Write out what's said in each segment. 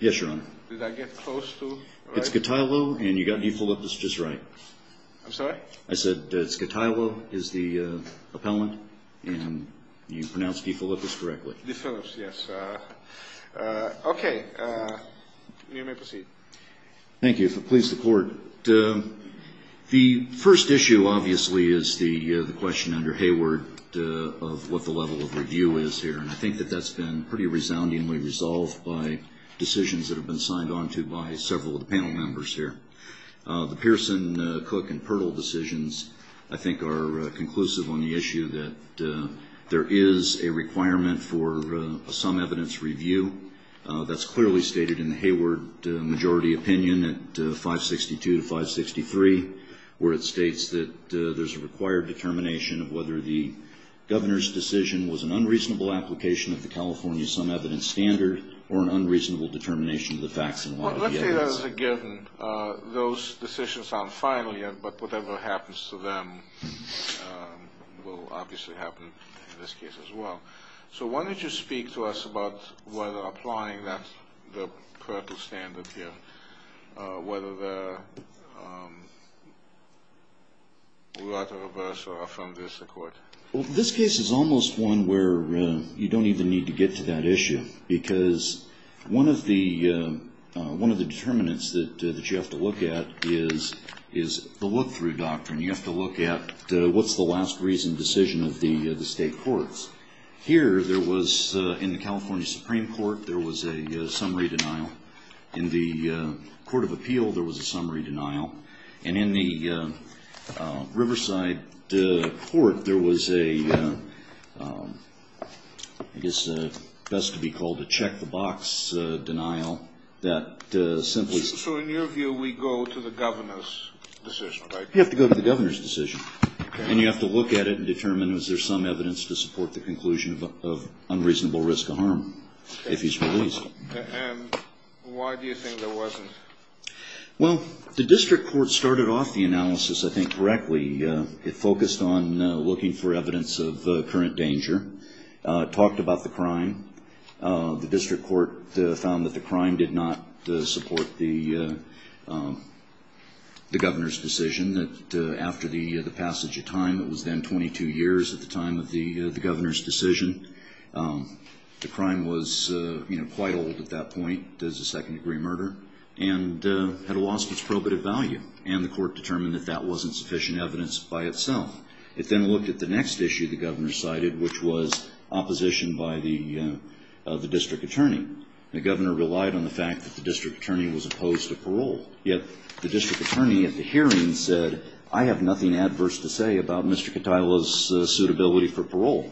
Yes, Your Honor. Did I get close to right? It's Kutylo, and you got DeFilippis just right. I'm sorry? I said it's Kutylo is the appellant, and you pronounced DeFilippis correctly. DeFilippis, yes. Okay, you may proceed. Thank you. Please, the Court. The first issue, obviously, is the question under Hayward of what the level of review is here, and I think that that's been pretty resoundingly resolved by decisions that have been signed onto by several of the panel members here. The Pearson, Cook, and Perl decisions, I think, are conclusive on the issue that there is a requirement for a sum evidence review. That's clearly stated in the Hayward majority opinion at 562 to 563, where it states that there's a required determination of whether the governor's decision was an unreasonable application of the California sum evidence standard or an unreasonable determination of the facts and law. Let's say that, as a given, those decisions aren't final yet, but whatever happens to them will obviously happen in this case as well. So why don't you speak to us about whether applying the purple standard here, whether we ought to reverse or affirm this, the Court? Well, this case is almost one where you don't even need to get to that issue, because one of the determinants that you have to look at is the look-through doctrine. You have to look at what's the last reason decision of the state courts. Here, there was, in the California Supreme Court, there was a summary denial. In the Court of Appeal, there was a summary denial. And in the Riverside Court, there was a, I guess, best to be called a check-the-box denial that simply… So in your view, we go to the governor's decision, right? You have to go to the governor's decision, and you have to look at it and determine, is there some evidence to support the conclusion of unreasonable risk of harm if he's released? And why do you think there wasn't? Well, the district court started off the analysis, I think, correctly. It focused on looking for evidence of current danger, talked about the crime. The district court found that the crime did not support the governor's decision, that after the passage of time, it was then 22 years at the time of the governor's decision. The crime was quite old at that point. It was a second-degree murder and had lost its probative value. And the court determined that that wasn't sufficient evidence by itself. It then looked at the next issue the governor cited, which was opposition by the district attorney. The governor relied on the fact that the district attorney was opposed to parole. Yet the district attorney at the hearing said, I have nothing adverse to say about Mr. Cotillo's suitability for parole.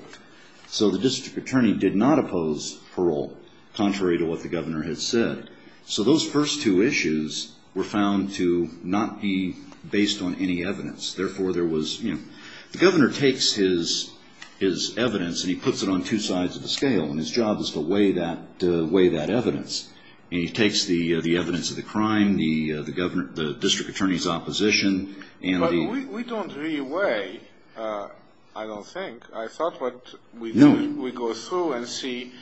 So the district attorney did not oppose parole, contrary to what the governor had said. So those first two issues were found to not be based on any evidence. The governor takes his evidence and he puts it on two sides of the scale, and his job is to weigh that evidence. And he takes the evidence of the crime, the district attorney's opposition, and the... But we don't really weigh, I don't think. I thought we'd go through and see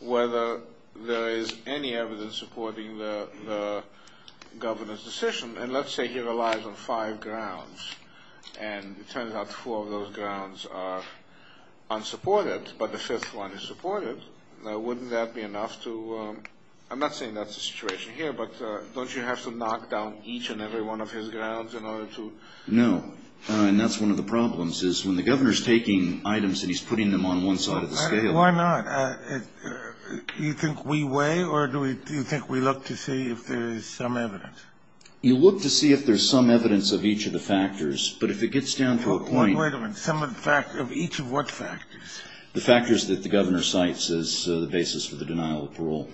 whether there is any evidence supporting the governor's decision. And let's say he relies on five grounds, and it turns out four of those grounds are unsupported, but the fifth one is supported. Wouldn't that be enough to... I'm not saying that's the situation here, but don't you have to knock down each and every one of his grounds in order to... No. And that's one of the problems, is when the governor's taking items and he's putting them on one side of the scale... Why not? Do you think we weigh, or do you think we look to see if there is some evidence? You look to see if there's some evidence of each of the factors, but if it gets down to a point... Wait a minute. Some of the factors. Each of what factors? The factors that the governor cites as the basis for the denial of parole.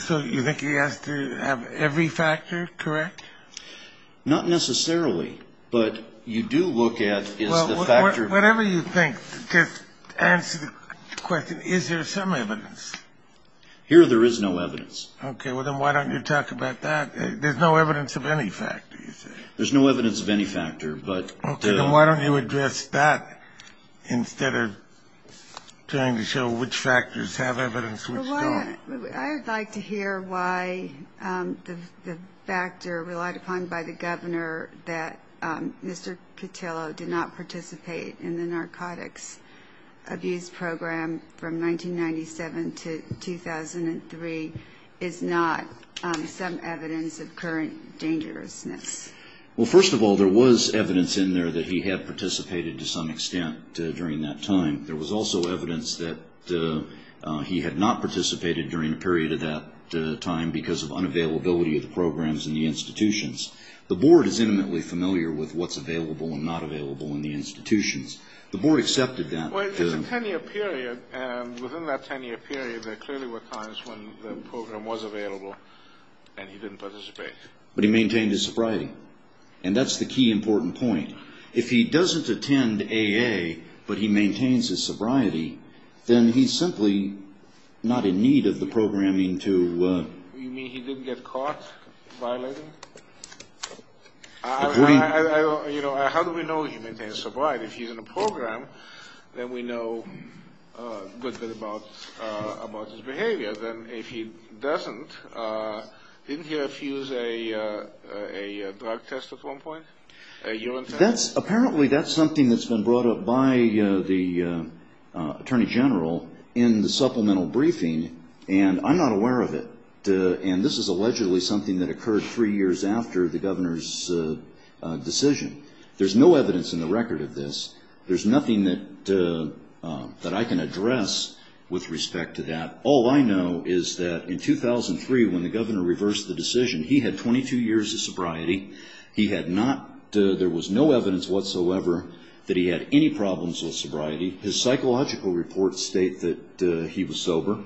So you think he has to have every factor correct? Not necessarily, but you do look at, is the factor... Whatever you think, just answer the question, is there some evidence? Here there is no evidence. Okay. Well, then why don't you talk about that? There's no evidence of any factor, you say? There's no evidence of any factor, but... Okay. Then why don't you address that instead of trying to show which factors have evidence, which don't? Well, I would like to hear why the factor relied upon by the governor that Mr. Cutillo did not participate in the narcotics abuse program from 1997 to 2003 is not some evidence of current dangerousness. Well, first of all, there was evidence in there that he had participated to some extent during that time. There was also evidence that he had not participated during a period of that time because of unavailability of the programs and the institutions. The board is intimately familiar with what's available and not available in the institutions. The board accepted that. Well, it was a 10-year period, and within that 10-year period, there clearly were times when the program was available and he didn't participate. But he maintained his sobriety, and that's the key important point. If he doesn't attend AA, but he maintains his sobriety, then he's simply not in need of the programming to... You mean he didn't get caught violating? You know, how do we know he maintains sobriety? If he's in a program, then we know a good bit about his behavior. Then if he doesn't, didn't he refuse a drug test at one point? Apparently that's something that's been brought up by the attorney general in the supplemental briefing, and I'm not aware of it, and this is allegedly something that occurred three years after the governor's decision. There's no evidence in the record of this. There's nothing that I can address with respect to that. All I know is that in 2003, when the governor reversed the decision, he had 22 years of sobriety. He had not... There was no evidence whatsoever that he had any problems with sobriety. His psychological reports state that he was sober.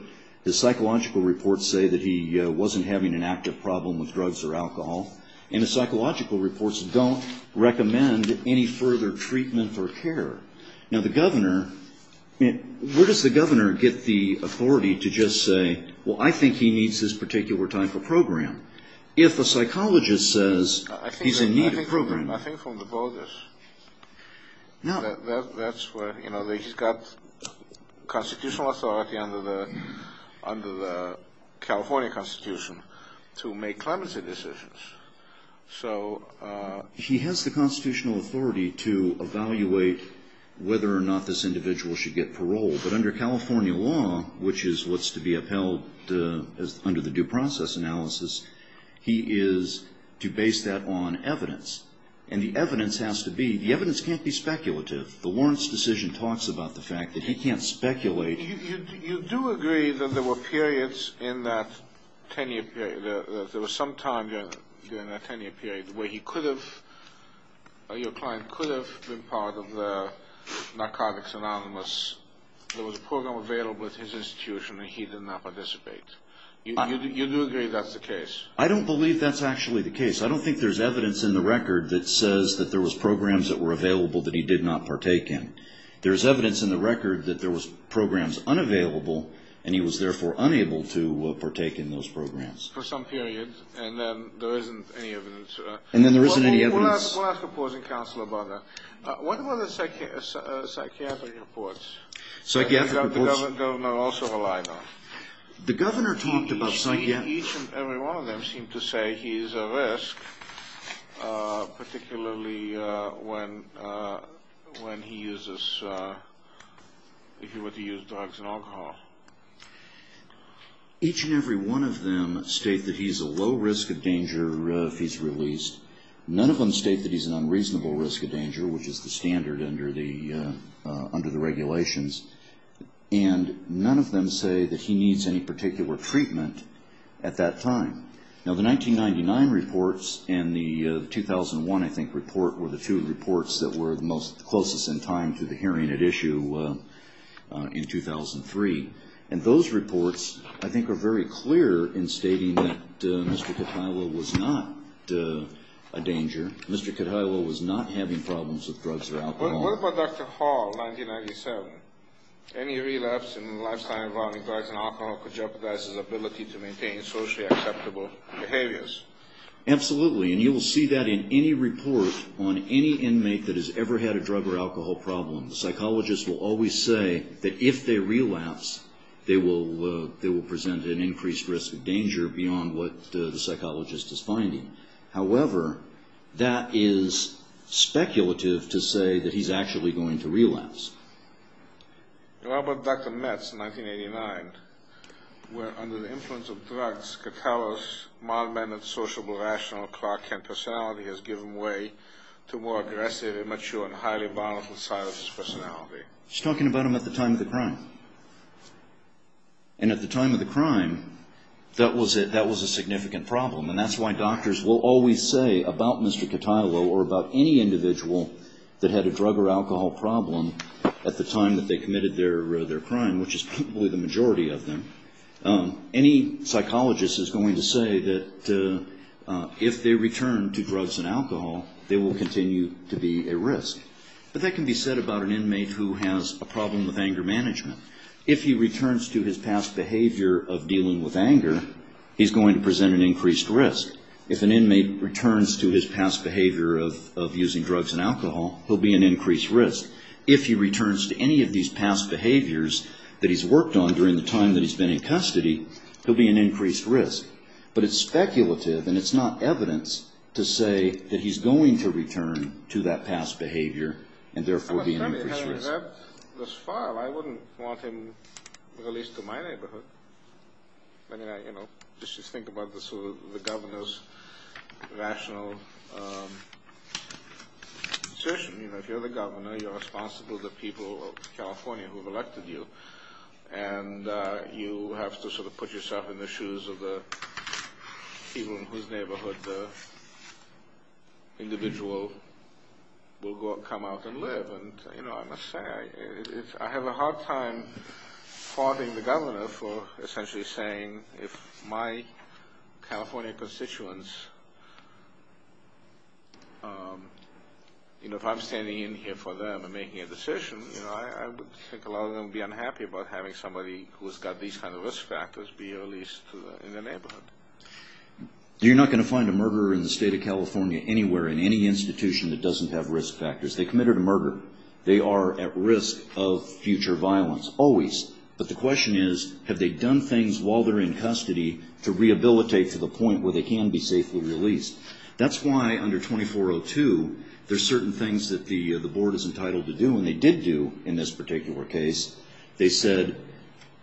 His psychological reports say that he wasn't having an active problem with drugs or alcohol, and his psychological reports don't recommend any further treatment or care. Now, the governor... Where does the governor get the authority to just say, well, I think he needs this particular type of program? If a psychologist says he's in need of programming... He's got constitutional authority under the California Constitution to make clemency decisions. So... He has the constitutional authority to evaluate whether or not this individual should get parole, but under California law, which is what's to be upheld under the due process analysis, he is to base that on evidence, and the evidence has to be... The evidence can't be speculative. The warrants decision talks about the fact that he can't speculate... You do agree that there were periods in that 10-year period... There was some time during that 10-year period where he could have... Your client could have been part of the Narcotics Anonymous. There was a program available at his institution, and he did not participate. You do agree that's the case? I don't believe that's actually the case. I don't think there's evidence in the record that says that there was programs that were available that he did not partake in. There's evidence in the record that there was programs unavailable, and he was therefore unable to partake in those programs. For some period, and then there isn't any evidence... And then there isn't any evidence... We'll ask a pause in counsel about that. What about the psychiatric reports that the governor also relied on? The governor talked about... Each and every one of them seem to say he's a risk, particularly when he uses drugs and alcohol. Each and every one of them state that he's a low risk of danger if he's released. None of them state that he's an unreasonable risk of danger, which is the standard under the regulations. And none of them say that he needs any particular treatment at that time. Now, the 1999 reports and the 2001, I think, report were the two reports that were the closest in time to the hearing at issue in 2003. And those reports, I think, are very clear in stating that Mr. Katiwa was not a danger. Mr. Katiwa was not having problems with drugs or alcohol. What about Dr. Hall, 1997? Any relapse in the lifestyle involving drugs and alcohol could jeopardize his ability to maintain socially acceptable behaviors. Absolutely. And you will see that in any report on any inmate that has ever had a drug or alcohol problem. The psychologist will always say that if they relapse, they will present an increased risk of danger beyond what the psychologist is finding. However, that is speculative to say that he's actually going to relapse. What about Dr. Metz, 1989, where under the influence of drugs, Katiwa's mild-mannered, sociable, rational Clark Kent personality has given way to a more aggressive, immature, and highly violent side of his personality? He's talking about him at the time of the crime. And at the time of the crime, that was a significant problem. And that's why doctors will always say about Mr. Katiwa or about any individual that had a drug or alcohol problem at the time that they committed their crime, which is probably the majority of them, any psychologist is going to say that if they return to drugs and alcohol, they will continue to be at risk. But that can be said about an inmate who has a problem with anger management. If he returns to his past behavior of dealing with anger, he's going to present an increased risk. If an inmate returns to his past behavior of using drugs and alcohol, he'll be an increased risk. If he returns to any of these past behaviors that he's worked on during the time that he's been in custody, he'll be an increased risk. But it's speculative and it's not evidence to say that he's going to return to that past behavior and therefore be an increased risk. I wouldn't want him released to my neighborhood. Just think about the governor's rational decision. If you're the governor, you're responsible to the people of California who have elected you. And you have to sort of put yourself in the shoes of the people in whose neighborhood the individual will come out and live. I have a hard time faulting the governor for essentially saying if my California constituents, if I'm standing in here for them and making a decision, I would think a lot of them would be unhappy about having somebody who's got these kind of risk factors be released in their neighborhood. You're not going to find a murderer in the state of California anywhere in any institution that doesn't have risk factors. They committed a murder. They are at risk of future violence, always. But the question is, have they done things while they're in custody to rehabilitate to the point where they can be safely released? That's why under 2402, there's certain things that the board is entitled to do, and they did do in this particular case. They said,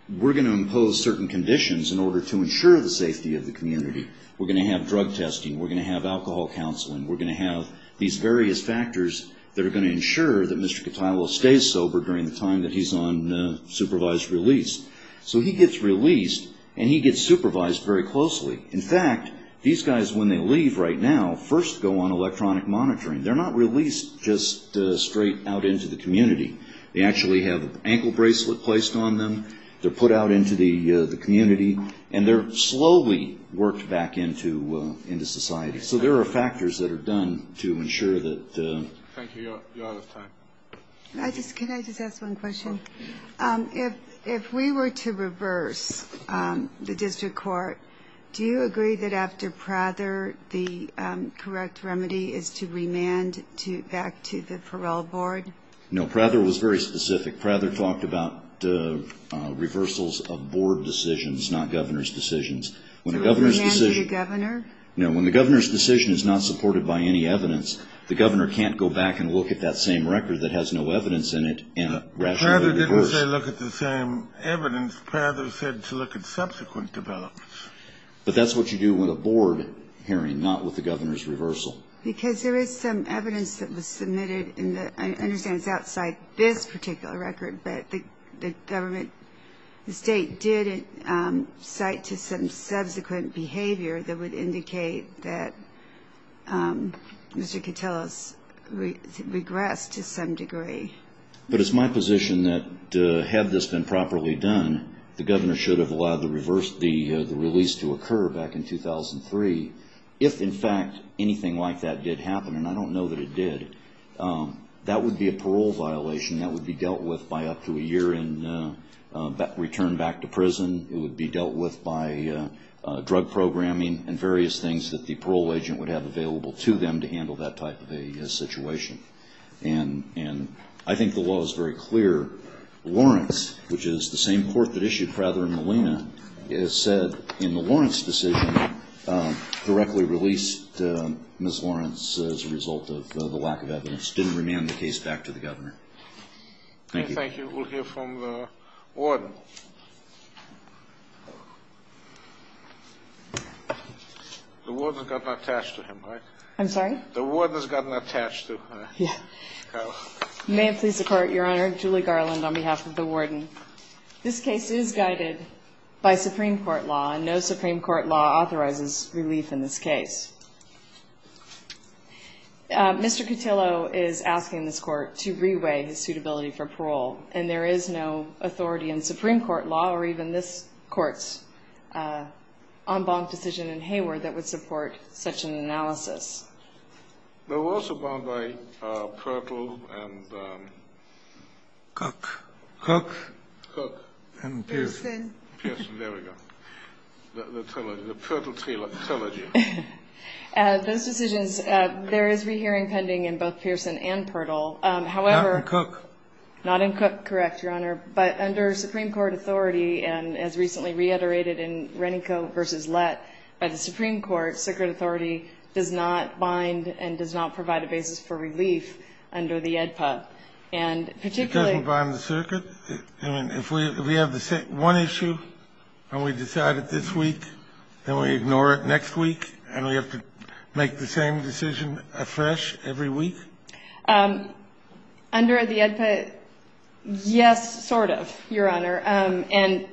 we're going to impose certain conditions in order to ensure the safety of the community. We're going to have drug testing. We're going to have alcohol counseling. We're going to have these various factors that are going to ensure that Mr. Cotillo stays sober during the time that he's on supervised release. So he gets released, and he gets supervised very closely. In fact, these guys, when they leave right now, first go on electronic monitoring. They're not released just straight out into the community. They actually have an ankle bracelet placed on them. They're put out into the community, and they're slowly worked back into society. So there are factors that are done to ensure that. Thank you. You're out of time. Can I just ask one question? If we were to reverse the district court, do you agree that after Prather, the correct remedy is to remand back to the Pharrell board? No, Prather was very specific. Prather talked about reversals of board decisions, not governor's decisions. So remand to the governor? No, when the governor's decision is not supported by any evidence, the governor can't go back and look at that same record that has no evidence in it and rationally reverse it. Prather didn't say look at the same evidence. Prather said to look at subsequent developments. But that's what you do with a board hearing, not with the governor's reversal. Because there is some evidence that was submitted, and I understand it's outside this particular record, but the government, the state did cite to some subsequent behavior that would indicate that Mr. Catello's regressed to some degree. But it's my position that had this been properly done, the governor should have allowed the release to occur back in 2003. If, in fact, anything like that did happen, and I don't know that it did, that would be a parole violation. That would be dealt with by up to a year in return back to prison. It would be dealt with by drug programming and various things that the parole agent would have available to them to handle that type of a situation. And I think the law is very clear. Lawrence, which is the same court that issued Prather and Molina, has said in the Lawrence decision, directly released Ms. Lawrence as a result of the lack of evidence, didn't remand the case back to the governor. Thank you. Thank you. We'll hear from the warden. The warden's gotten attached to him, right? I'm sorry? The warden's gotten attached to Kyle. May it please the Court, Your Honor, Julie Garland on behalf of the warden. This case is guided by Supreme Court law, and no Supreme Court law authorizes relief in this case. Mr. Cutillo is asking this Court to reweigh his suitability for parole, and there is no authority in Supreme Court law or even this Court's en banc decision in Hayward that would support such an analysis. We're also bound by Pirtle and Cook. Cook. Cook. And Pearson. Pearson. There we go. The Pirtle trilogy. Those decisions, there is rehearing pending in both Pearson and Pirtle. Not in Cook. Not in Cook, correct, Your Honor. But under Supreme Court authority, and as recently reiterated in Renico v. Lett, by the Supreme Court, Supreme Court authority does not bind and does not provide a basis for relief under the AEDPA. And particularly ---- It doesn't bind the circuit? I mean, if we have the same one issue, and we decide it this week, then we ignore it next week, and we have to make the same decision afresh every week? Under the AEDPA, yes, sort of, Your Honor. And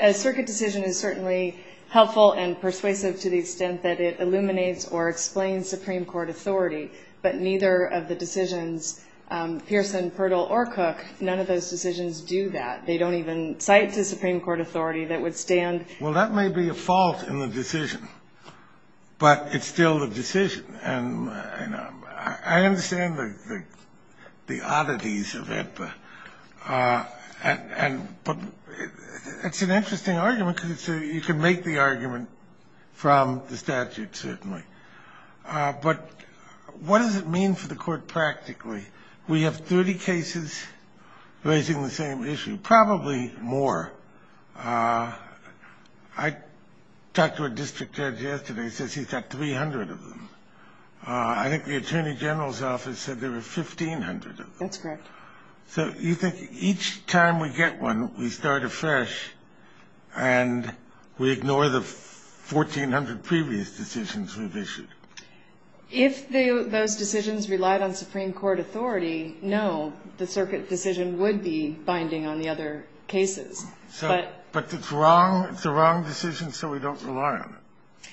a circuit decision is certainly helpful and persuasive to the extent that it illuminates or explains Supreme Court authority. But neither of the decisions, Pearson, Pirtle, or Cook, none of those decisions do that. They don't even cite the Supreme Court authority that would stand. Well, that may be a fault in the decision, but it's still the decision. I understand the oddities of AEDPA. But it's an interesting argument because you can make the argument from the statute, certainly. But what does it mean for the court practically? We have 30 cases raising the same issue, probably more. I talked to a district judge yesterday. He says he's got 300 of them. I think the attorney general's office said there were 1,500 of them. That's correct. So you think each time we get one, we start afresh, and we ignore the 1,400 previous decisions we've issued? If those decisions relied on Supreme Court authority, no, the circuit decision would be binding on the other cases. But it's a wrong decision, so we don't rely on it.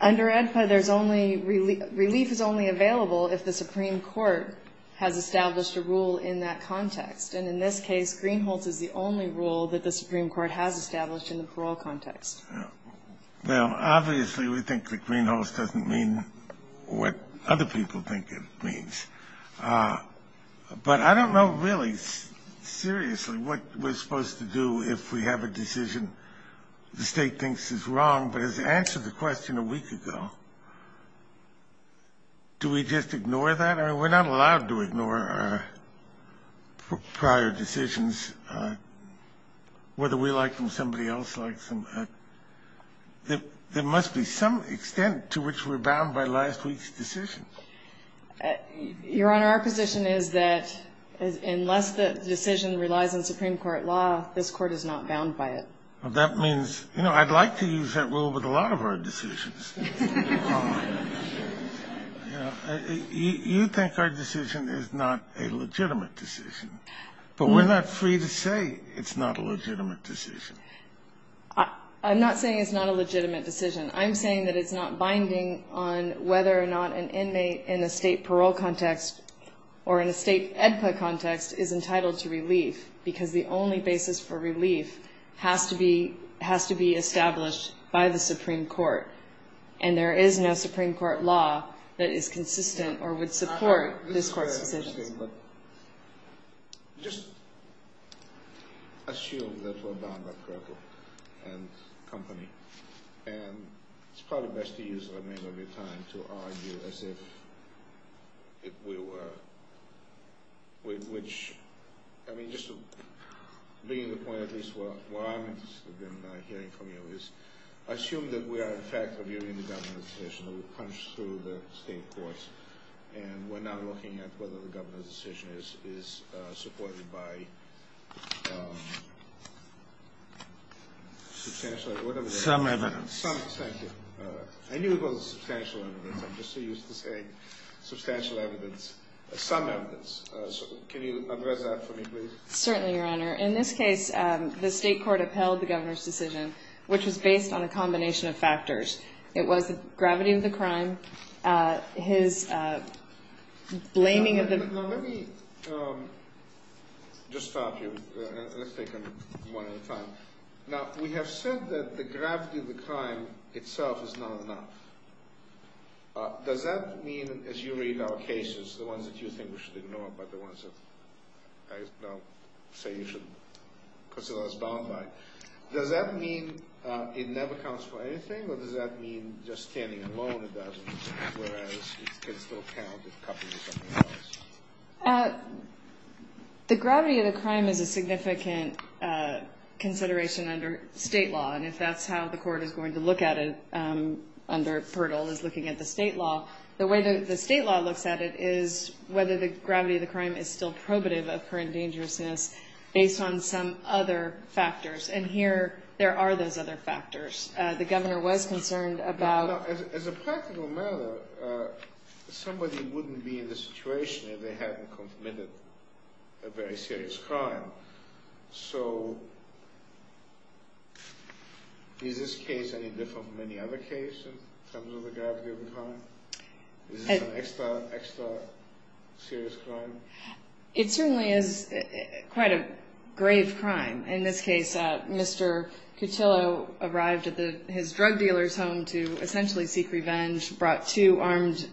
Under AEDPA, there's only relief. Relief is only available if the Supreme Court has established a rule in that context. And in this case, Greenholz is the only rule that the Supreme Court has established in the parole context. Well, obviously, we think that Greenholz doesn't mean what other people think it means. But I don't know really seriously what we're supposed to do if we have a decision the State thinks is wrong but has answered the question a week ago. Do we just ignore that? I mean, we're not allowed to ignore prior decisions, whether we like them, somebody else likes them. There must be some extent to which we're bound by last week's decision. Your Honor, our position is that unless the decision relies on Supreme Court law, this Court is not bound by it. That means, you know, I'd like to use that rule with a lot of our decisions. You think our decision is not a legitimate decision. But we're not free to say it's not a legitimate decision. I'm not saying it's not a legitimate decision. I'm saying that it's not binding on whether or not an inmate in a State parole context or in a State EDPA context is entitled to relief because the only basis for relief has to be established by the Supreme Court. And there is no Supreme Court law that is consistent or would support this Court's decision. It's interesting, but just assume that we're bound by protocol and company. And it's probably best to use the remainder of your time to argue as if we were, which, I mean, just to begin the point, at least what I've been hearing from you, is assume that we are, in fact, abusing the government's decision. And we're not looking at whether the governor's decision is supported by substantial evidence. I knew it was substantial evidence. I'm just so used to saying substantial evidence. Some evidence. Can you address that for me, please? Certainly, Your Honor. In this case, the State court upheld the governor's decision, which was based on a combination of factors. It was the gravity of the crime, his blaming of the... Now, let me just stop you. Let's take one at a time. Now, we have said that the gravity of the crime itself is not enough. Does that mean, as you read our cases, the ones that you think we should ignore, but the ones that I don't say you should consider us bound by, does that mean it never counts for anything? Or does that mean just standing alone it doesn't, whereas it can still count if coupled with something else? The gravity of the crime is a significant consideration under State law. And if that's how the court is going to look at it under Pertle, is looking at the State law. The way the State law looks at it is whether the gravity of the crime is still probative of current dangerousness based on some other factors. And here, there are those other factors. The governor was concerned about... Now, as a practical matter, somebody wouldn't be in this situation if they hadn't committed a very serious crime. So, is this case any different from any other case in terms of the gravity of the crime? Is this an extra, extra serious crime? It certainly is quite a grave crime. In this case, Mr. Cotillo arrived at his drug dealer's home to essentially seek revenge, brought two armed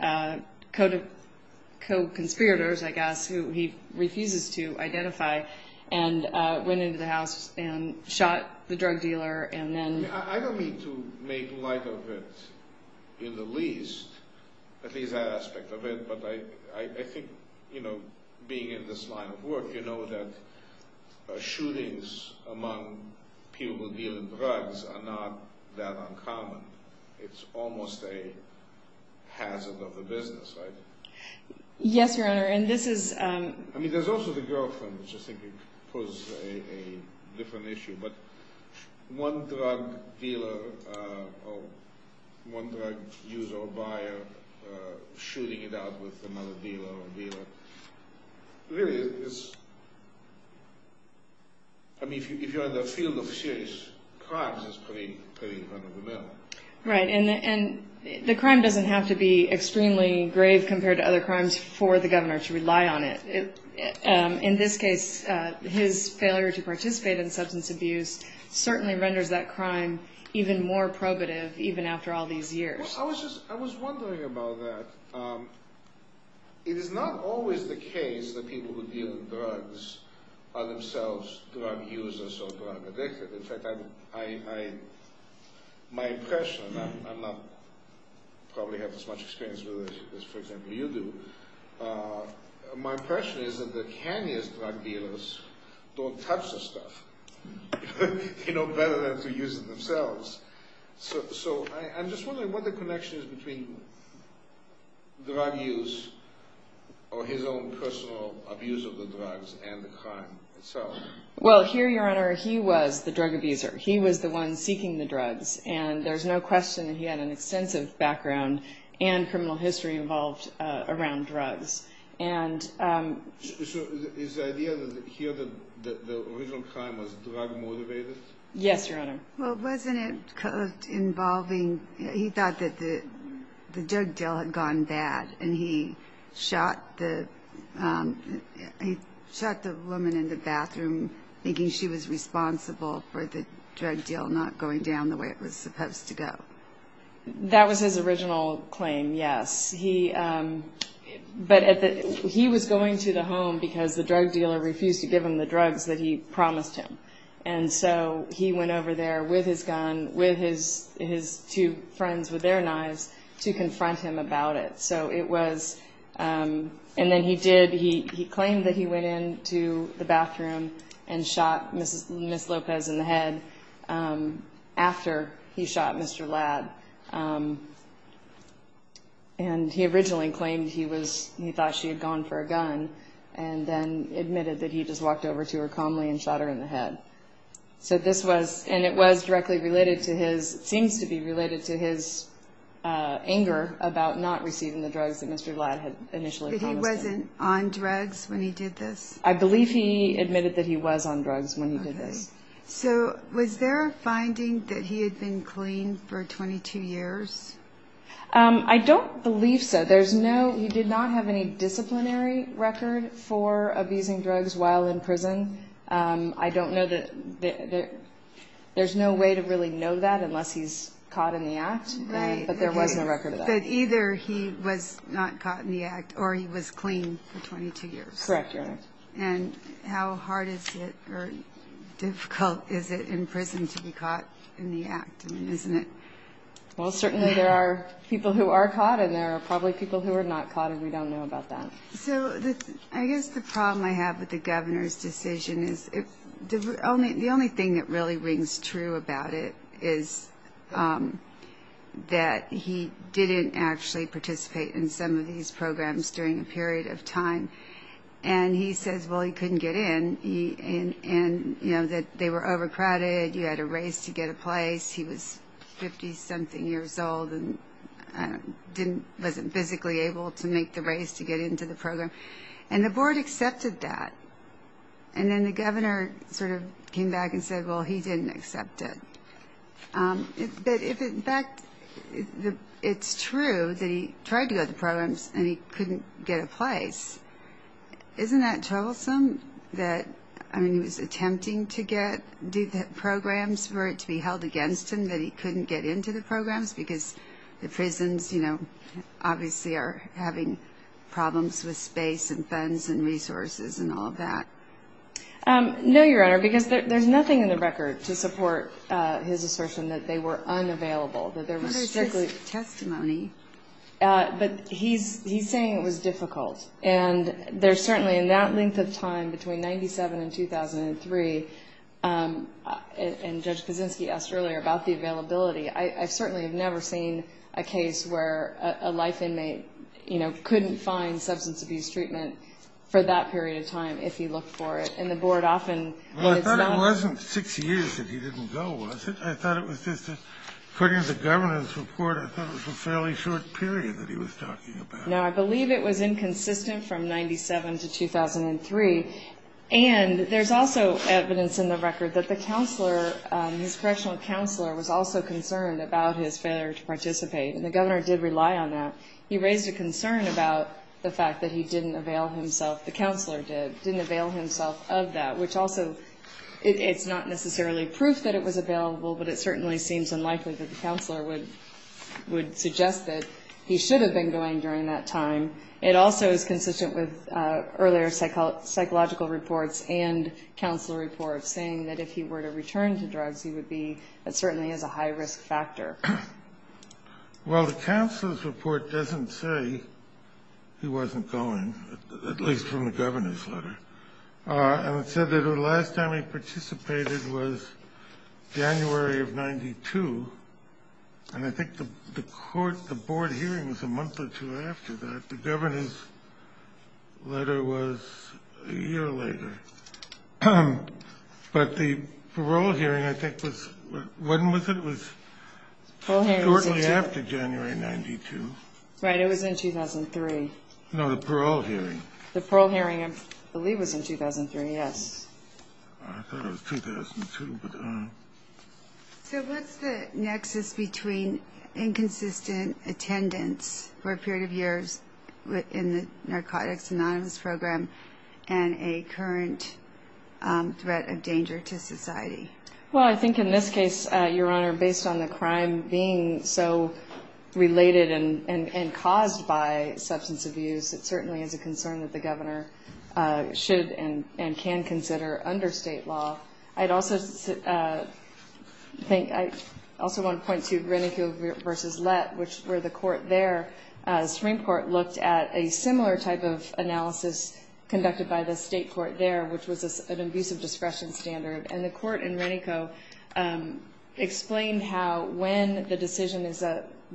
co-conspirators, I guess, who he refuses to identify, and went into the house and shot the drug dealer, and then... I don't mean to make light of it in the least, at least that aspect of it, but I think being in this line of work, you know that shootings among people dealing drugs are not that uncommon. It's almost a hazard of the business, right? Yes, Your Honor, and this is... I mean, there's also the girlfriend, which I think poses a different issue, but one drug dealer or one drug user or buyer shooting it out with another dealer or dealer really is... I mean, if you're in the field of serious crimes, it's pretty run-of-the-mill. Right, and the crime doesn't have to be extremely grave compared to other crimes for the governor to rely on it. In this case, his failure to participate in substance abuse certainly renders that crime even more probative, even after all these years. I was wondering about that. It is not always the case that people who deal in drugs are themselves drug users or drug addicted. In fact, my impression, I'm not... I probably have as much experience with it as, for example, you do. My impression is that the canniest drug dealers don't touch the stuff. They know better than to use it themselves. So I'm just wondering what the connection is between drug use or his own personal abuse of the drugs and the crime itself. Well, here, Your Honor, he was the drug abuser. He was the one seeking the drugs, and there's no question he had an extensive background and criminal history involved around drugs. So is the idea here that the original crime was drug motivated? Yes, Your Honor. Well, wasn't it involving... He thought that the drug deal had gone bad, and he shot the woman in the bathroom thinking she was responsible for the drug deal not going down the way it was supposed to go. That was his original claim, yes. But he was going to the home because the drug dealer refused to give him the drugs that he promised him. And so he went over there with his gun, with his two friends with their knives, to confront him about it. So it was... And then he did... and shot Ms. Lopez in the head after he shot Mr. Ladd. And he originally claimed he thought she had gone for a gun and then admitted that he just walked over to her calmly and shot her in the head. So this was... And it was directly related to his... It seems to be related to his anger about not receiving the drugs that Mr. Ladd had initially promised him. So he wasn't on drugs when he did this? I believe he admitted that he was on drugs when he did this. Okay. So was there a finding that he had been clean for 22 years? I don't believe so. There's no... He did not have any disciplinary record for abusing drugs while in prison. I don't know that... There's no way to really know that unless he's caught in the act. Right. But there was no record of that. So either he was not caught in the act or he was clean for 22 years. Correct, Your Honor. And how hard is it or difficult is it in prison to be caught in the act? I mean, isn't it... Well, certainly there are people who are caught and there are probably people who are not caught, and we don't know about that. So I guess the problem I have with the governor's decision is the only thing that really rings true about it is that he didn't actually participate in some of these programs during a period of time. And he says, well, he couldn't get in, and, you know, that they were overcrowded, you had a race to get a place. He was 50-something years old and wasn't physically able to make the race to get into the program. And the board accepted that. And then the governor sort of came back and said, well, he didn't accept it. But if, in fact, it's true that he tried to go to the programs and he couldn't get a place, isn't that troublesome that, I mean, he was attempting to get programs for it to be held against him that he couldn't get into the programs because the prisons, you know, obviously are having problems with space and funds and resources and all of that? No, Your Honor, because there's nothing in the record to support his assertion that they were unavailable, that there was strictly testimony. But he's saying it was difficult. And there's certainly in that length of time between 1997 and 2003, and Judge Kaczynski asked earlier about the availability, I certainly have never seen a case where a life inmate, you know, couldn't find substance abuse treatment for that period of time if he looked for it. And the board often made its own. Well, I thought it wasn't six years that he didn't go, was it? I thought it was just according to the governor's report, I thought it was a fairly short period that he was talking about. No, I believe it was inconsistent from 1997 to 2003. And there's also evidence in the record that the counselor, his correctional counselor was also concerned about his failure to participate. And the governor did rely on that. He raised a concern about the fact that he didn't avail himself, the counselor did, didn't avail himself of that, which also, it's not necessarily proof that it was available, but it certainly seems unlikely that the counselor would suggest that he should have been going during that time. It also is consistent with earlier psychological reports and counselor reports, saying that if he were to return to drugs, he would be, that certainly is a high-risk factor. Well, the counselor's report doesn't say he wasn't going, at least from the governor's letter. And it said that the last time he participated was January of 92, and I think the court, the board hearing was a month or two after that. The governor's letter was a year later. But the parole hearing, I think, was, when was it? It was shortly after January 92. Right, it was in 2003. No, the parole hearing. The parole hearing, I believe, was in 2003, yes. I thought it was 2002. So what's the nexus between inconsistent attendance for a period of years in the Narcotics Anonymous Program and a current threat of danger to society? Well, I think in this case, Your Honor, based on the crime being so related and caused by substance abuse, it certainly is a concern that the governor should and can consider under state law. I'd also want to point to Renico v. Lett, where the court there, Supreme Court, looked at a similar type of analysis conducted by the state court there, which was an abusive discretion standard. And the court in Renico explained how when the decision is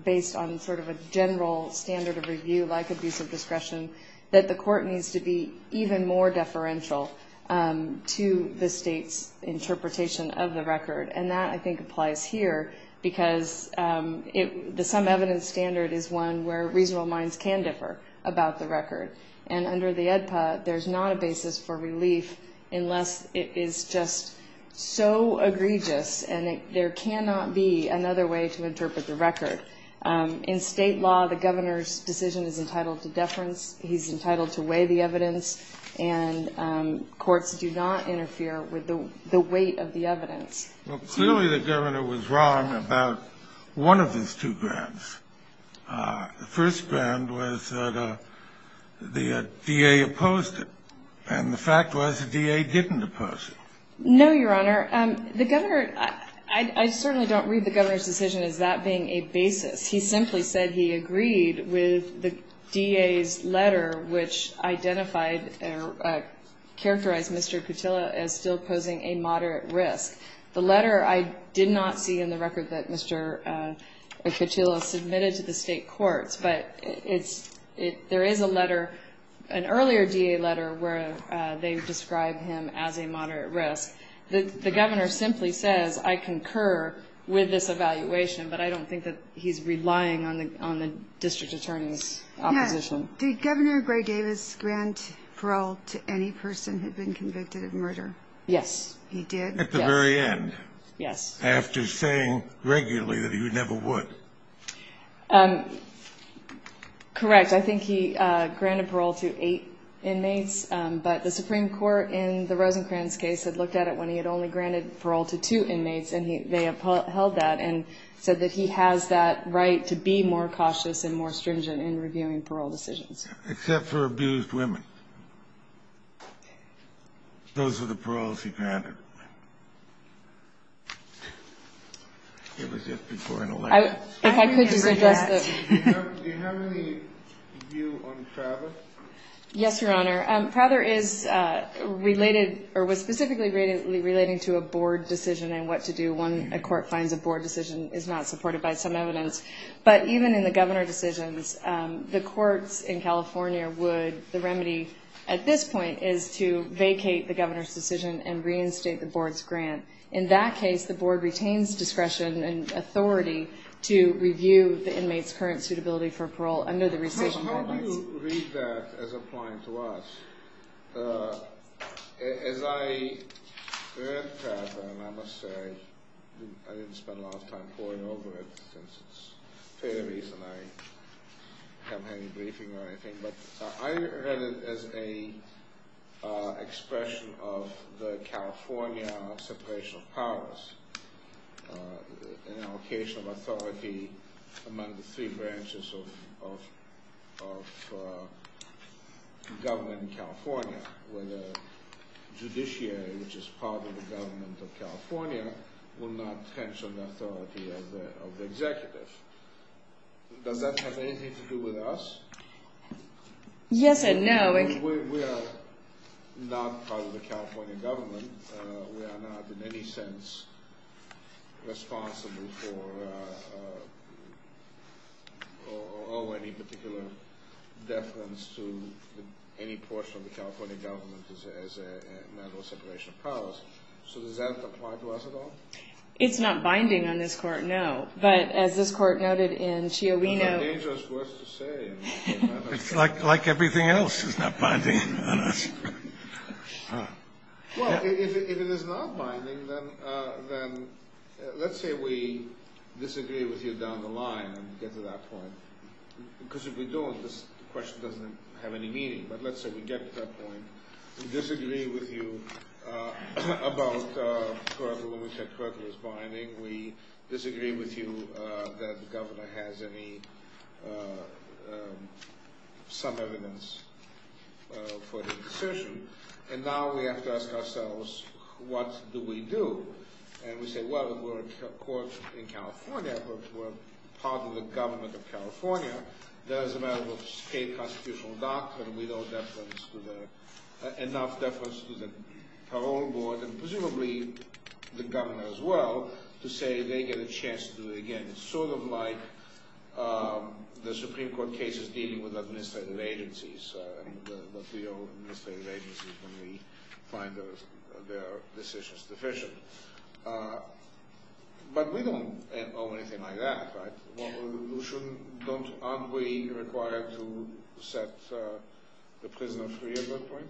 based on sort of a general standard of review, like abusive discretion, that the court needs to be even more deferential to the state's interpretation of the record. And that, I think, applies here because the sum evidence standard is one where reasonable minds can differ about the record. And under the AEDPA, there's not a basis for relief unless it is just so egregious and there cannot be another way to interpret the record. In state law, the governor's decision is entitled to deference. He's entitled to weigh the evidence. And courts do not interfere with the weight of the evidence. Well, clearly the governor was wrong about one of his two grants. The first grant was that the DA opposed it. And the fact was the DA didn't oppose it. No, Your Honor. The governor, I certainly don't read the governor's decision as that being a basis. He simply said he agreed with the DA's letter, which identified or characterized Mr. Cotilla as still posing a moderate risk. The letter I did not see in the record that Mr. Cotilla submitted to the state courts, but there is a letter, an earlier DA letter, where they describe him as a moderate risk. The governor simply says, I concur with this evaluation, but I don't think that he's relying on the district attorney's opposition. Did Governor Gray Davis grant parole to any person who had been convicted of murder? Yes. He did? At the very end. Yes. After saying regularly that he never would. Correct. I think he granted parole to eight inmates. But the Supreme Court in the Rosencrantz case had looked at it when he had only granted parole to two inmates, and they upheld that and said that he has that right to be more cautious and more stringent in reviewing parole decisions. Except for abused women. Those are the paroles he granted. It was just before an election. If I could just address the ---- Do you have any view on Travis? Yes, Your Honor. Prather is related, or was specifically relating to a board decision and what to do when a court finds a board decision is not supported by some evidence. But even in the governor decisions, the courts in California would, the remedy at this point is to vacate the governor's decision and reinstate the board's grant. In that case, the board retains discretion and authority to review the inmate's current suitability for parole under the rescission guidelines. I do read that as applying to us. As I read Prather, and I must say I didn't spend a lot of time going over it, since it's fair reason I haven't had any briefing or anything, but I read it as an expression of the California separation of powers and allocation of authority among the three branches of government in California where the judiciary, which is part of the government of California, will not tension the authority of the executive. Does that have anything to do with us? Yes and no. We are not part of the California government. We are not in any sense responsible for or owe any particular deference to any portion of the California government as a matter of separation of powers. So does that apply to us at all? It's not binding on this Court, no. But as this Court noted in Chiolino. That's a dangerous word to say. It's like everything else is not binding on us. Well, if it is not binding, then let's say we disagree with you down the line, and we get to that point. Because if we don't, this question doesn't have any meaning. But let's say we get to that point. We disagree with you about when we said Prather was binding. We disagree with you that the governor has some evidence for the incision. And now we have to ask ourselves, what do we do? And we say, well, we're a court in California. We're part of the government of California. There is a matter of state constitutional doctrine. We owe enough deference to the parole board and presumably the governor as well to say they get a chance to do it again. It's sort of like the Supreme Court cases dealing with administrative agencies. We owe administrative agencies when we find their decisions deficient. But we don't owe anything like that. Aren't we required to set the prisoner free at that point?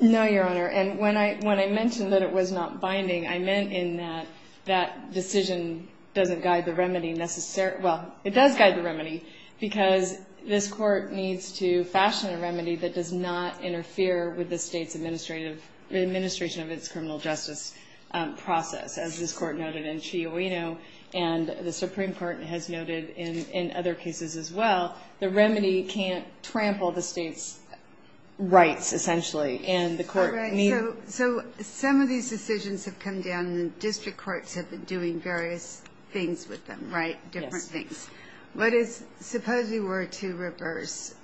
No, Your Honor. And when I mentioned that it was not binding, I meant in that that decision doesn't guide the remedy necessarily. Well, it does guide the remedy because this court needs to fashion a remedy that does not interfere with the state's administration of its criminal justice process, as this court noted in Chioino and the Supreme Court has noted in other cases as well. The remedy can't trample the state's rights, essentially. All right. So some of these decisions have come down and the district courts have been doing various things with them, right? Yes. Different things. Suppose we were to reverse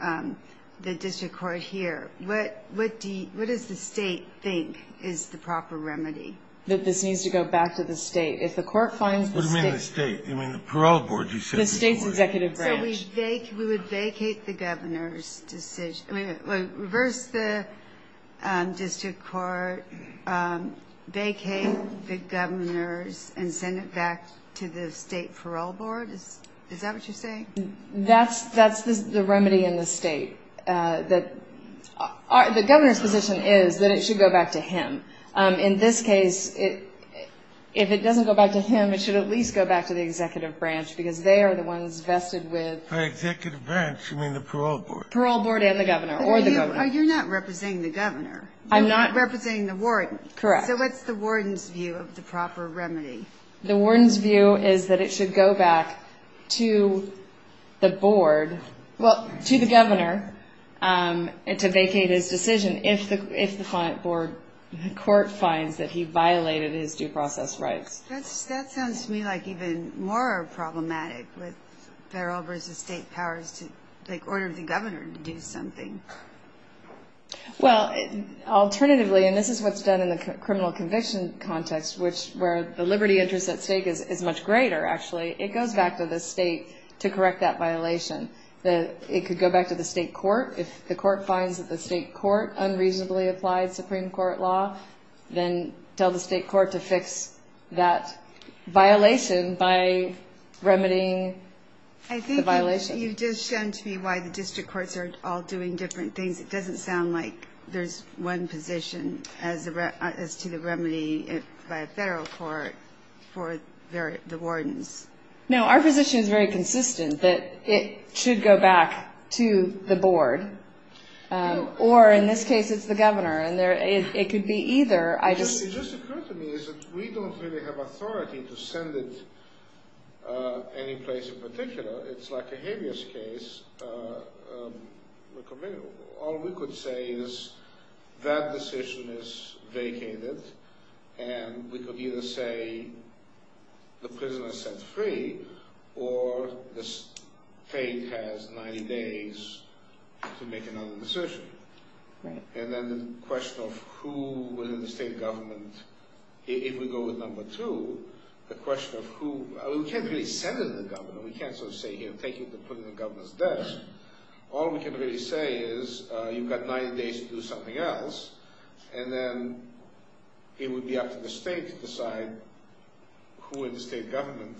the district court here. What does the state think is the proper remedy? That this needs to go back to the state. What do you mean the state? You mean the parole board you said before. The state's executive branch. So we would vacate the governor's decision. Reverse the district court, vacate the governor's, and send it back to the state parole board? Is that what you're saying? That's the remedy in the state. The governor's position is that it should go back to him. In this case, if it doesn't go back to him, it should at least go back to the executive branch because they are the ones vested with the parole board. The state and the governor or the governor. But you're not representing the governor. I'm not. You're representing the warden. Correct. So what's the warden's view of the proper remedy? The warden's view is that it should go back to the board, well, to the governor to vacate his decision if the court finds that he violated his due process rights. That sounds to me like even more problematic with parole versus state powers to order the governor to do something. Well, alternatively, and this is what's done in the criminal conviction context, where the liberty interest at stake is much greater, actually, it goes back to the state to correct that violation. It could go back to the state court. If the court finds that the state court unreasonably applied Supreme Court law, then tell the state court to fix that violation by remedying the violation. I think you've just shown to me why the district courts are all doing different things. It doesn't sound like there's one position as to the remedy by a federal court for the wardens. No, our position is very consistent, that it should go back to the board. Or, in this case, it's the governor. It could be either. It just occurred to me that we don't really have authority to send it any place in particular. It's like a habeas case. All we could say is that decision is vacated, and we could either say the prisoner is set free, or the state has 90 days to make another decision. And then the question of who within the state government, if we go with number two, the question of who, we can't really send it to the governor. We can't say, here, take it and put it in the governor's desk. All we can really say is, you've got 90 days to do something else, and then it would be up to the state to decide who in the state government,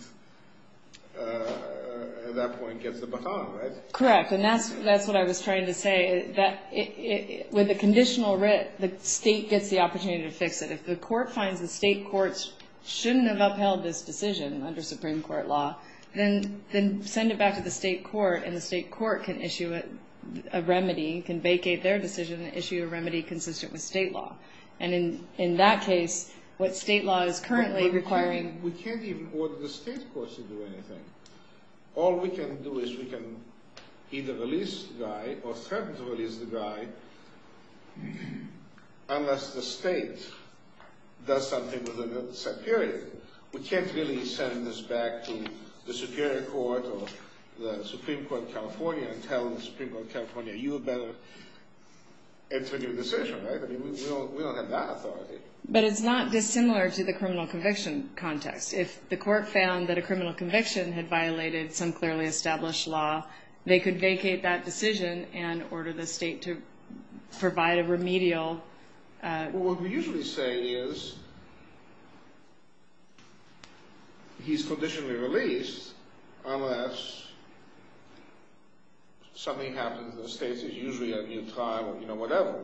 at that point, gets the baton, right? Correct, and that's what I was trying to say. With a conditional writ, the state gets the opportunity to fix it. If the court finds the state courts shouldn't have upheld this decision under Supreme Court law, then send it back to the state court, and the state court can issue a remedy, can vacate their decision and issue a remedy consistent with state law. And in that case, what state law is currently requiring... We can't even order the state courts to do anything. All we can do is we can either release the guy or threaten to release the guy, unless the state does something with the superior. We can't really send this back to the superior court or the Supreme Court of California and tell the Supreme Court of California, you had better enter a new decision, right? We don't have that authority. But it's not dissimilar to the criminal conviction context. If the court found that a criminal conviction had violated some clearly established law, they could vacate that decision and order the state to provide a remedial... Something happens in the states, there's usually a new trial or, you know, whatever.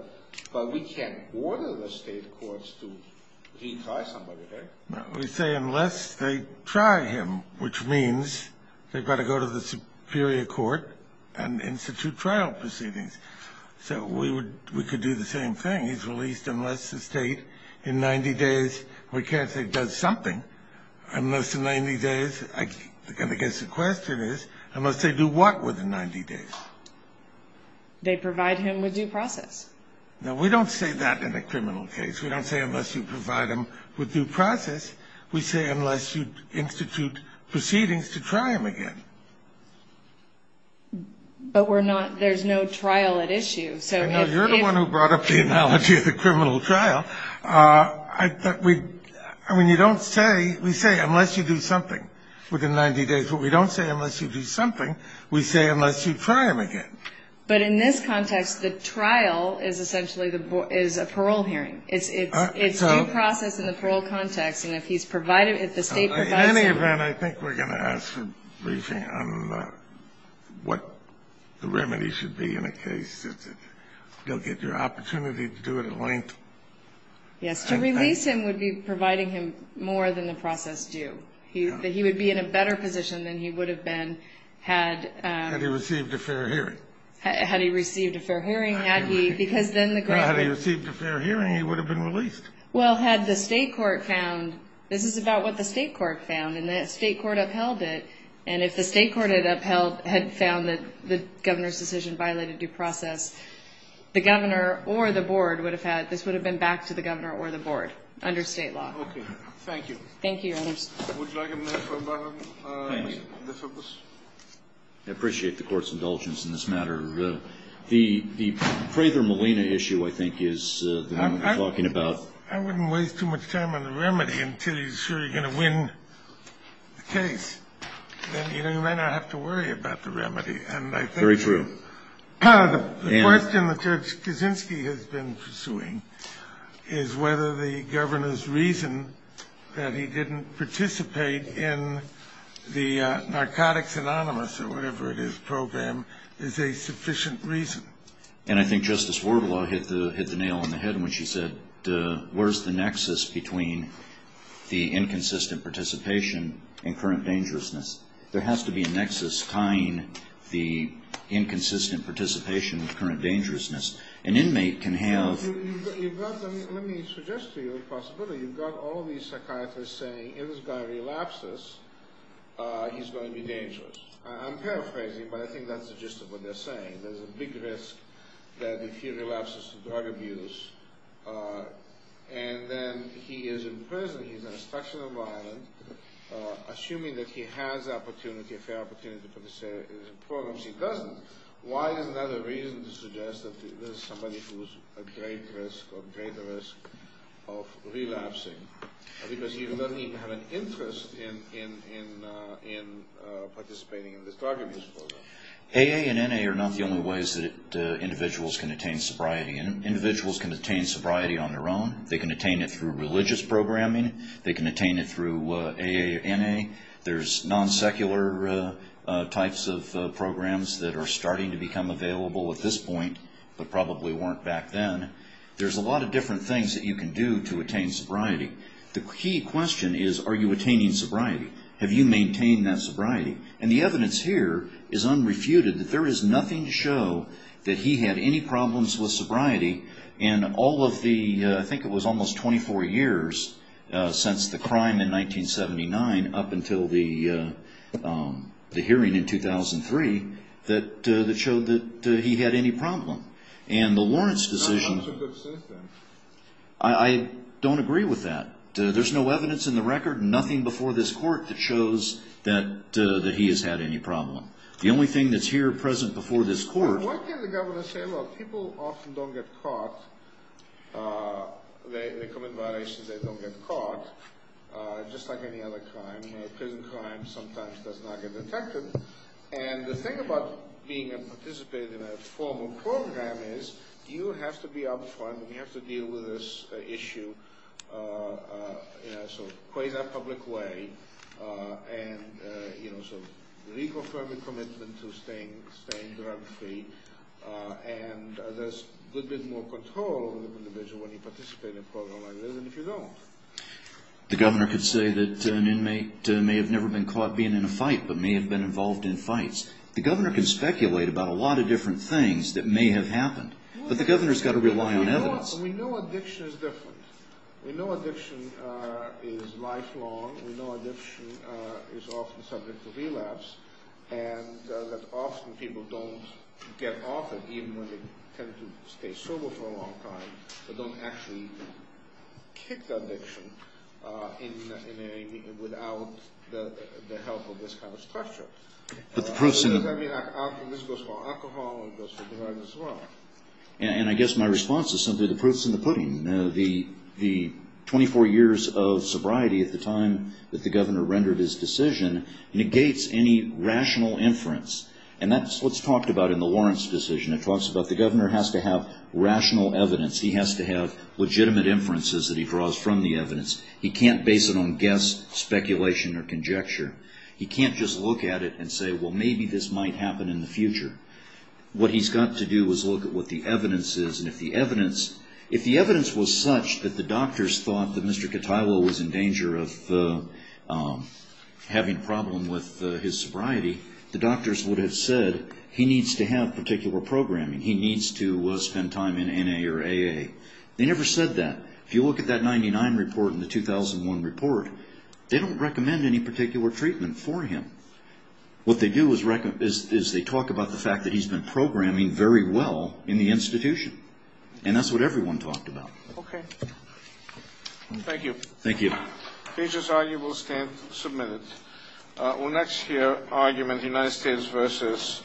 But we can't order the state courts to retry somebody, right? No, we say unless they try him, which means they've got to go to the superior court and institute trial proceedings. So we could do the same thing. He's released unless the state in 90 days... We can't say does something unless in 90 days... I guess the question is, unless they do what within 90 days? They provide him with due process. Now, we don't say that in a criminal case. We don't say unless you provide him with due process. We say unless you institute proceedings to try him again. But we're not... There's no trial at issue, so if... I know you're the one who brought up the analogy of the criminal trial. I mean, you don't say, we say unless you do something within 90 days. But we don't say unless you do something. We say unless you try him again. But in this context, the trial is essentially the parole hearing. It's due process in the parole context, and if he's provided, if the state provides... In any event, I think we're going to ask for briefing on what the remedy should be in a case. They'll get your opportunity to do it at length. Yes, to release him would be providing him more than the process due. He would be in a better position than he would have been had... Had he received a fair hearing. Had he received a fair hearing, had he... Because then the grant... Had he received a fair hearing, he would have been released. Well, had the state court found... This is about what the state court found, and the state court upheld it. And if the state court had found that the governor's decision violated due process, the governor or the board would have had... This would have been back to the governor or the board under state law. Okay. Thank you. Thank you, Your Honors. Would you like a minute for a moment? Thank you. I appreciate the court's indulgence in this matter. The Prather-Molina issue, I think, is the one we're talking about. I wouldn't waste too much time on the remedy until you're sure you're going to win the case. Then you might not have to worry about the remedy. Very true. The question that Judge Kuczynski has been pursuing is whether the governor's reason that he didn't participate in the Narcotics Anonymous or whatever it is program is a sufficient reason. And I think Justice Wardlaw hit the nail on the head when she said, where's the nexus between the inconsistent participation and current dangerousness? There has to be a nexus tying the inconsistent participation with current dangerousness. An inmate can have... Let me suggest to you a possibility. You've got all these psychiatrists saying, if this guy relapses, he's going to be dangerous. I'm paraphrasing, but I think that's the gist of what they're saying. There's a big risk that if he relapses to drug abuse, and then he is in prison, he's under obstruction of violence, assuming that he has the opportunity, a fair opportunity to participate in the program. If he doesn't, why is that a reason to suggest that there's somebody who's at great risk or greater risk of relapsing? Because he doesn't even have an interest in participating in this drug abuse program. A.A. and N.A. are not the only ways that individuals can attain sobriety. Individuals can attain sobriety on their own. They can attain it through religious programming. They can attain it through A.A. or N.A. There's non-secular types of programs that are starting to become available at this point, but probably weren't back then. There's a lot of different things that you can do to attain sobriety. The key question is, are you attaining sobriety? Have you maintained that sobriety? And the evidence here is unrefuted. There is nothing to show that he had any problems with sobriety in all of the, I think it was almost 24 years since the crime in 1979 up until the hearing in 2003, that showed that he had any problem. And the Lawrence decision, I don't agree with that. There's no evidence in the record, nothing before this court, that shows that he has had any problem. The only thing that's here present before this court. What can the governor say? Well, people often don't get caught. They commit violations. They don't get caught, just like any other crime. Prison crime sometimes does not get detected. And the thing about being a participant in a formal program is you have to be upfront and you have to deal with this issue in a quasi-public way. And so legal firm commitment to staying drug-free. And there's a good bit more control over the individual when you participate in a program like this than if you don't. The governor could say that an inmate may have never been caught being in a fight but may have been involved in fights. The governor can speculate about a lot of different things that may have happened. But the governor's got to rely on evidence. We know addiction is different. We know addiction is lifelong. We know addiction is often subject to relapse. And that often people don't get off it, even when they tend to stay sober for a long time, but don't actually kick addiction without the help of this kind of structure. But the proof's in the pudding. And I guess my response is simply the proof's in the pudding. The 24 years of sobriety at the time that the governor rendered his decision negates any rational inference. And that's what's talked about in the Lawrence decision. It talks about the governor has to have rational evidence. He has to have legitimate inferences that he draws from the evidence. He can't base it on guess, speculation, or conjecture. He can't just look at it and say, well, maybe this might happen in the future. What he's got to do is look at what the evidence is. And if the evidence was such that the doctors thought that Mr. Cotillo was in danger of having a problem with his sobriety, the doctors would have said he needs to have particular programming. He needs to spend time in NA or AA. They never said that. If you look at that 99 report and the 2001 report, they don't recommend any particular treatment for him. What they do is they talk about the fact that he's been programming very well in the institution. And that's what everyone talked about. Okay. Thank you. Thank you. The features argument will stand submitted. Our next here argument, United States versus